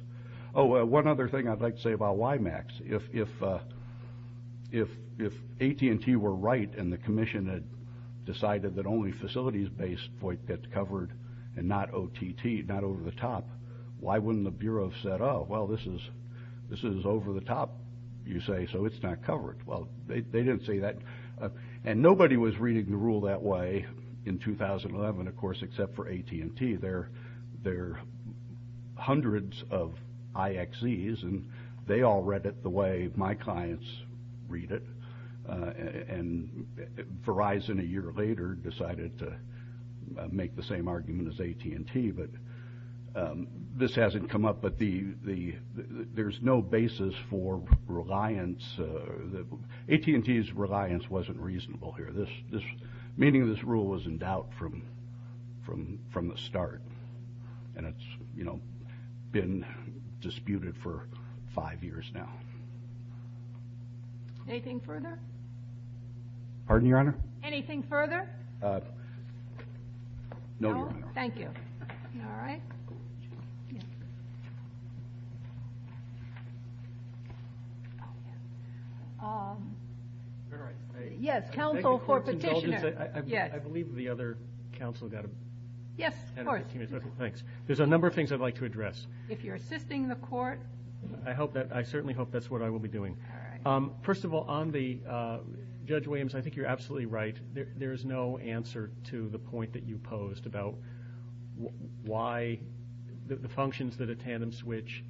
Oh, one other thing I'd like to say about WiMAX. If AT&T were right and the Commission had decided that only facilities-based FOIT gets covered, and not OTT, not over-the-top, why wouldn't the Bureau have said, oh, well, this is over-the-top, you say, so it's not covered. Well, they didn't say that. And nobody was reading the rule that way in 2011, of course, except for AT&T. There are hundreds of IXEs, and they all read it the way my clients read it. And Verizon, a year later, decided to make the same argument as AT&T. But this hasn't come up. But there's no basis for reliance. AT&T's reliance wasn't reasonable here. Meaning of this rule was in doubt from the start. And it's, you know, been disputed for five years now. Anything further? Pardon, Your Honor? Anything further? No, Your Honor. Thank you. All right. Yes, counsel for petitioner. I believe the other counsel got a ---- Yes, of course. Thanks. There's a number of things I'd like to address. If you're assisting the court. I certainly hope that's what I will be doing. All right. First of all, on Judge Williams, I think you're absolutely right. There is no answer to the point that you posed about why the functions that a tandem switch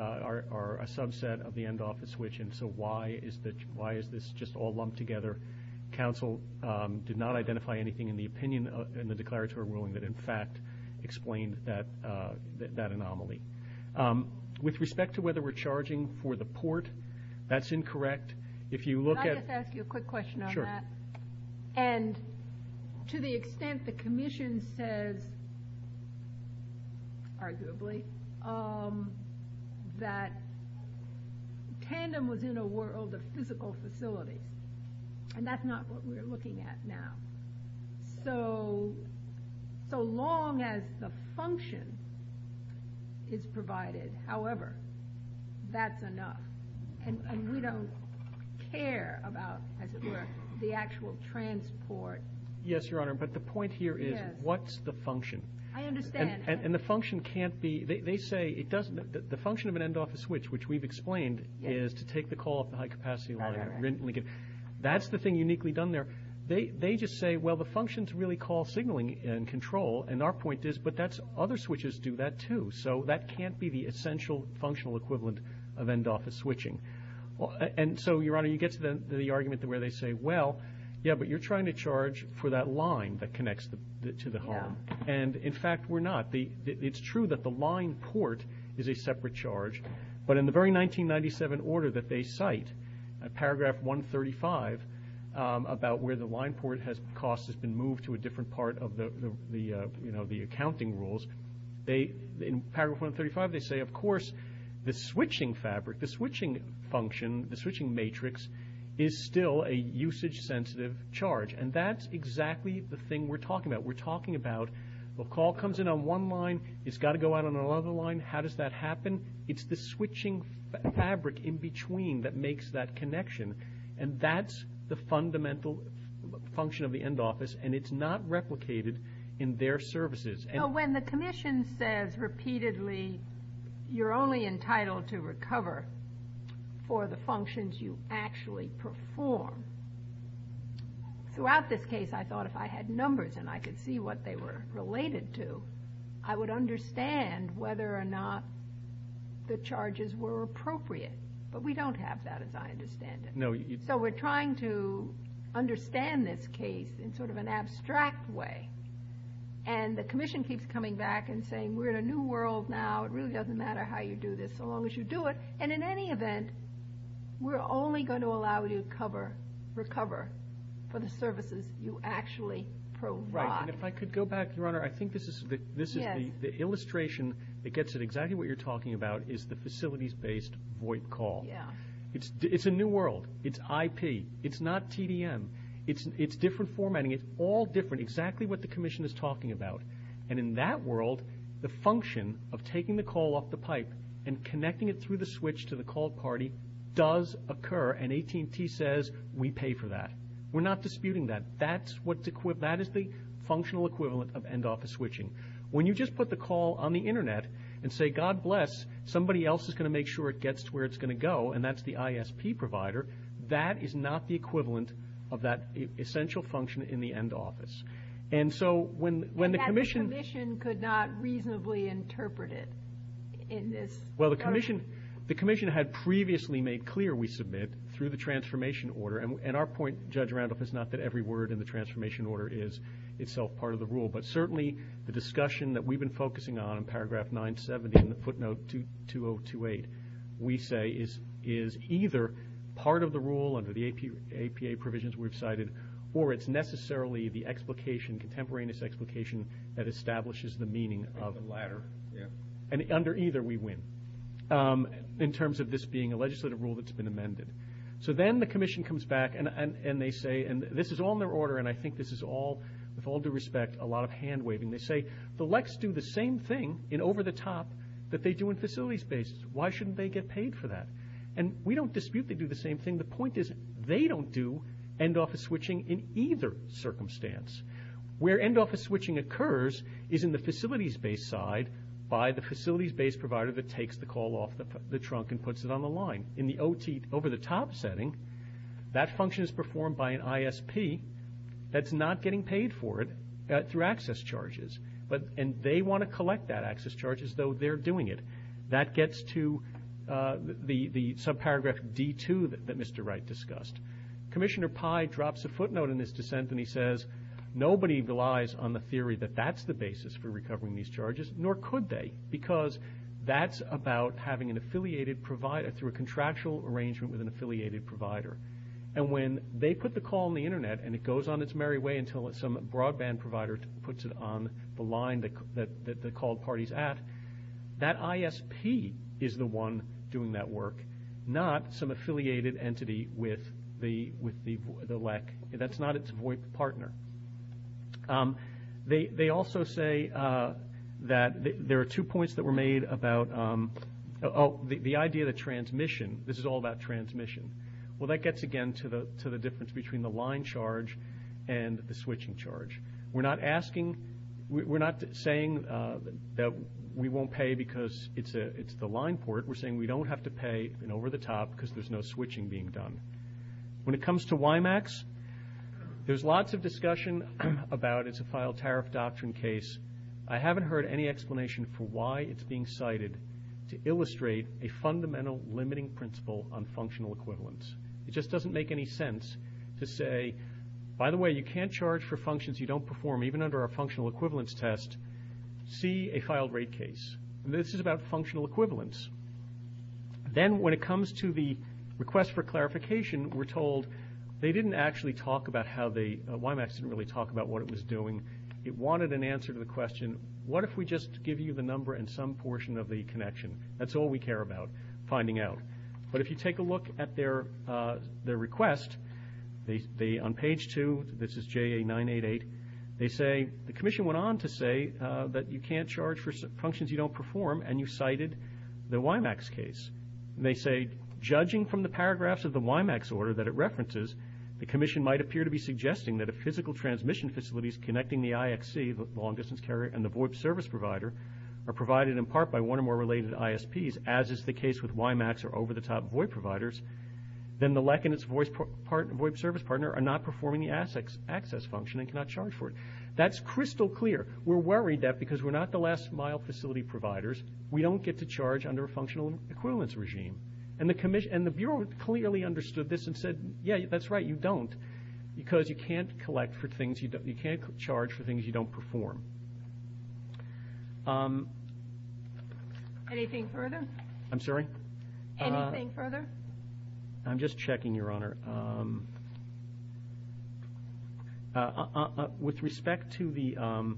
are a subset of the end office switch. And so why is this just all lumped together? Counsel did not identify anything in the opinion in the declaratory ruling that, in fact, explained that anomaly. With respect to whether we're charging for the port, that's incorrect. If you look at ---- And to the extent the commission says, arguably, that tandem was in a world of physical facilities, and that's not what we're looking at now. So long as the function is provided, however, that's enough. And we don't care about, as it were, the actual transport. Yes, Your Honor, but the point here is what's the function? I understand. And the function can't be ---- they say it doesn't ---- the function of an end office switch, which we've explained, is to take the call up the high capacity line. That's the thing uniquely done there. They just say, well, the functions really call signaling and control. And our point is, but other switches do that, too. So that can't be the essential functional equivalent of end office switching. And so, Your Honor, you get to the argument where they say, well, yeah, but you're trying to charge for that line that connects to the home. And, in fact, we're not. It's true that the line port is a separate charge. But in the very 1997 order that they cite, paragraph 135, about where the line port cost has been moved to a different part of the accounting rules, in paragraph 135 they say, of course, the switching fabric, the switching function, the switching matrix, is still a usage sensitive charge. And that's exactly the thing we're talking about. We're talking about the call comes in on one line, it's got to go out on another line. How does that happen? It's the switching fabric in between that makes that connection. And that's the fundamental function of the end office. And it's not replicated in their services. When the commission says repeatedly you're only entitled to recover for the functions you actually perform, throughout this case I thought if I had numbers and I could see what they were related to, I would understand whether or not the charges were appropriate. But we don't have that as I understand it. So we're trying to understand this case in sort of an abstract way. And the commission keeps coming back and saying we're in a new world now. It really doesn't matter how you do this so long as you do it. And in any event, we're only going to allow you to recover for the services you actually provide. And if I could go back, Your Honor, I think this is the illustration that gets at exactly what you're talking about is the facilities-based VoIP call. It's a new world. It's IP. It's not TDM. It's different formatting. It's all different, exactly what the commission is talking about. And in that world, the function of taking the call off the pipe and connecting it through the switch to the call party does occur, and AT&T says we pay for that. We're not disputing that. That is the functional equivalent of end office switching. When you just put the call on the Internet and say, God bless, somebody else is going to make sure it gets to where it's going to go, and that's the ISP provider, that is not the equivalent of that essential function in the end office. And so when the commission ---- And that the commission could not reasonably interpret it in this. Well, the commission had previously made clear we submit through the transformation order, and our point, Judge Randolph, is not that every word in the transformation order is itself part of the rule, but certainly the discussion that we've been focusing on in paragraph 970 and footnote 2028, we say is either part of the rule under the APA provisions we've cited or it's necessarily the explication, contemporaneous explication, that establishes the meaning of the latter. And under either we win in terms of this being a legislative rule that's been amended. So then the commission comes back and they say, and this is all in their order, and I think this is all, with all due respect, a lot of hand-waving. They say, the LECs do the same thing in over-the-top that they do in facilities-based. Why shouldn't they get paid for that? And we don't dispute they do the same thing. The point is they don't do end office switching in either circumstance. Where end office switching occurs is in the facilities-based side by the facilities-based provider that takes the call off the trunk and puts it on the line. In the OT, over-the-top setting, that function is performed by an ISP that's not getting paid for it through access charges, and they want to collect that access charge as though they're doing it. That gets to the subparagraph D2 that Mr. Wright discussed. Commissioner Pye drops a footnote in this dissent and he says, nobody relies on the theory that that's the basis for recovering these charges, nor could they because that's about having an affiliated provider through a contractual arrangement with an affiliated provider. And when they put the call on the Internet and it goes on its merry way until some broadband provider puts it on the line that the call party's at, that ISP is the one doing that work, not some affiliated entity with the LEC. That's not its VOIP partner. They also say that there are two points that were made about the idea of the transmission. This is all about transmission. Well, that gets again to the difference between the line charge and the switching charge. We're not saying that we won't pay because it's the line port. We're saying we don't have to pay an over-the-top because there's no switching being done. When it comes to WiMAX, there's lots of discussion about it's a file tariff doctrine case. I haven't heard any explanation for why it's being cited to illustrate a fundamental limiting principle on functional equivalence. It just doesn't make any sense to say, by the way, you can't charge for functions you don't perform, even under a functional equivalence test, see a filed rate case. This is about functional equivalence. Then when it comes to the request for clarification, we're told they didn't actually talk about how the WiMAX didn't really talk about what it was doing. It wanted an answer to the question, what if we just give you the number and some portion of the connection? That's all we care about, finding out. But if you take a look at their request, on page two, this is JA-988, they say, the commission went on to say that you can't charge for functions you don't perform, and you cited the WiMAX case. And they say, judging from the paragraphs of the WiMAX order that it references, the commission might appear to be suggesting that if physical transmission facilities connecting the IXC, the long-distance carrier, and the VOIP service provider, are provided in part by one or more related ISPs, as is the case with WiMAX or over-the-top VOIP providers, then the LEC and its VOIP service partner are not performing the access function and cannot charge for it. That's crystal clear. We're worried that because we're not the last-mile facility providers, we don't get to charge under a functional equivalence regime. And the Bureau clearly understood this and said, yeah, that's right, you don't, because you can't charge for things you don't perform. Anything further? I'm sorry? Anything further? I'm just checking, Your Honor. With respect to the ‑‑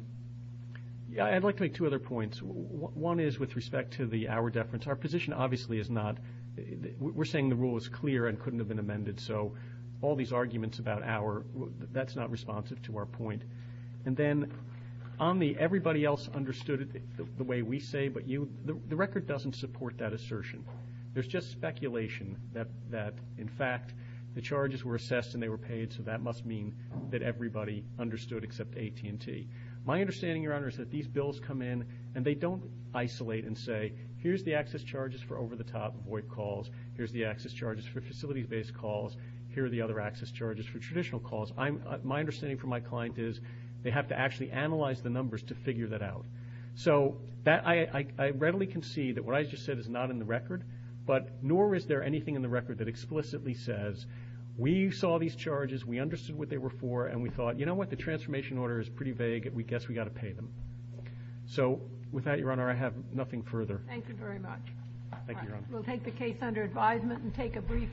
I'd like to make two other points. One is with respect to the hour deference. Our position obviously is not ‑‑ we're saying the rule is clear and couldn't have been amended, so all these arguments about hour, that's not responsive to our point. And then on the everybody else understood it the way we say, but the record doesn't support that assertion. There's just speculation that, in fact, the charges were assessed and they were paid, so that must mean that everybody understood except AT&T. My understanding, Your Honor, is that these bills come in and they don't isolate and say, here's the access charges for over-the-top VOIP calls, here's the access charges for facilities-based calls, here are the other access charges for traditional calls. My understanding from my client is they have to actually analyze the numbers to figure that out. So I readily concede that what I just said is not in the record, but nor is there anything in the record that explicitly says, we saw these charges, we understood what they were for, and we thought, you know what, the transformation order is pretty vague, we guess we've got to pay them. So with that, Your Honor, I have nothing further. Thank you very much. Thank you, Your Honor. We'll take the case under advisement and take a brief break.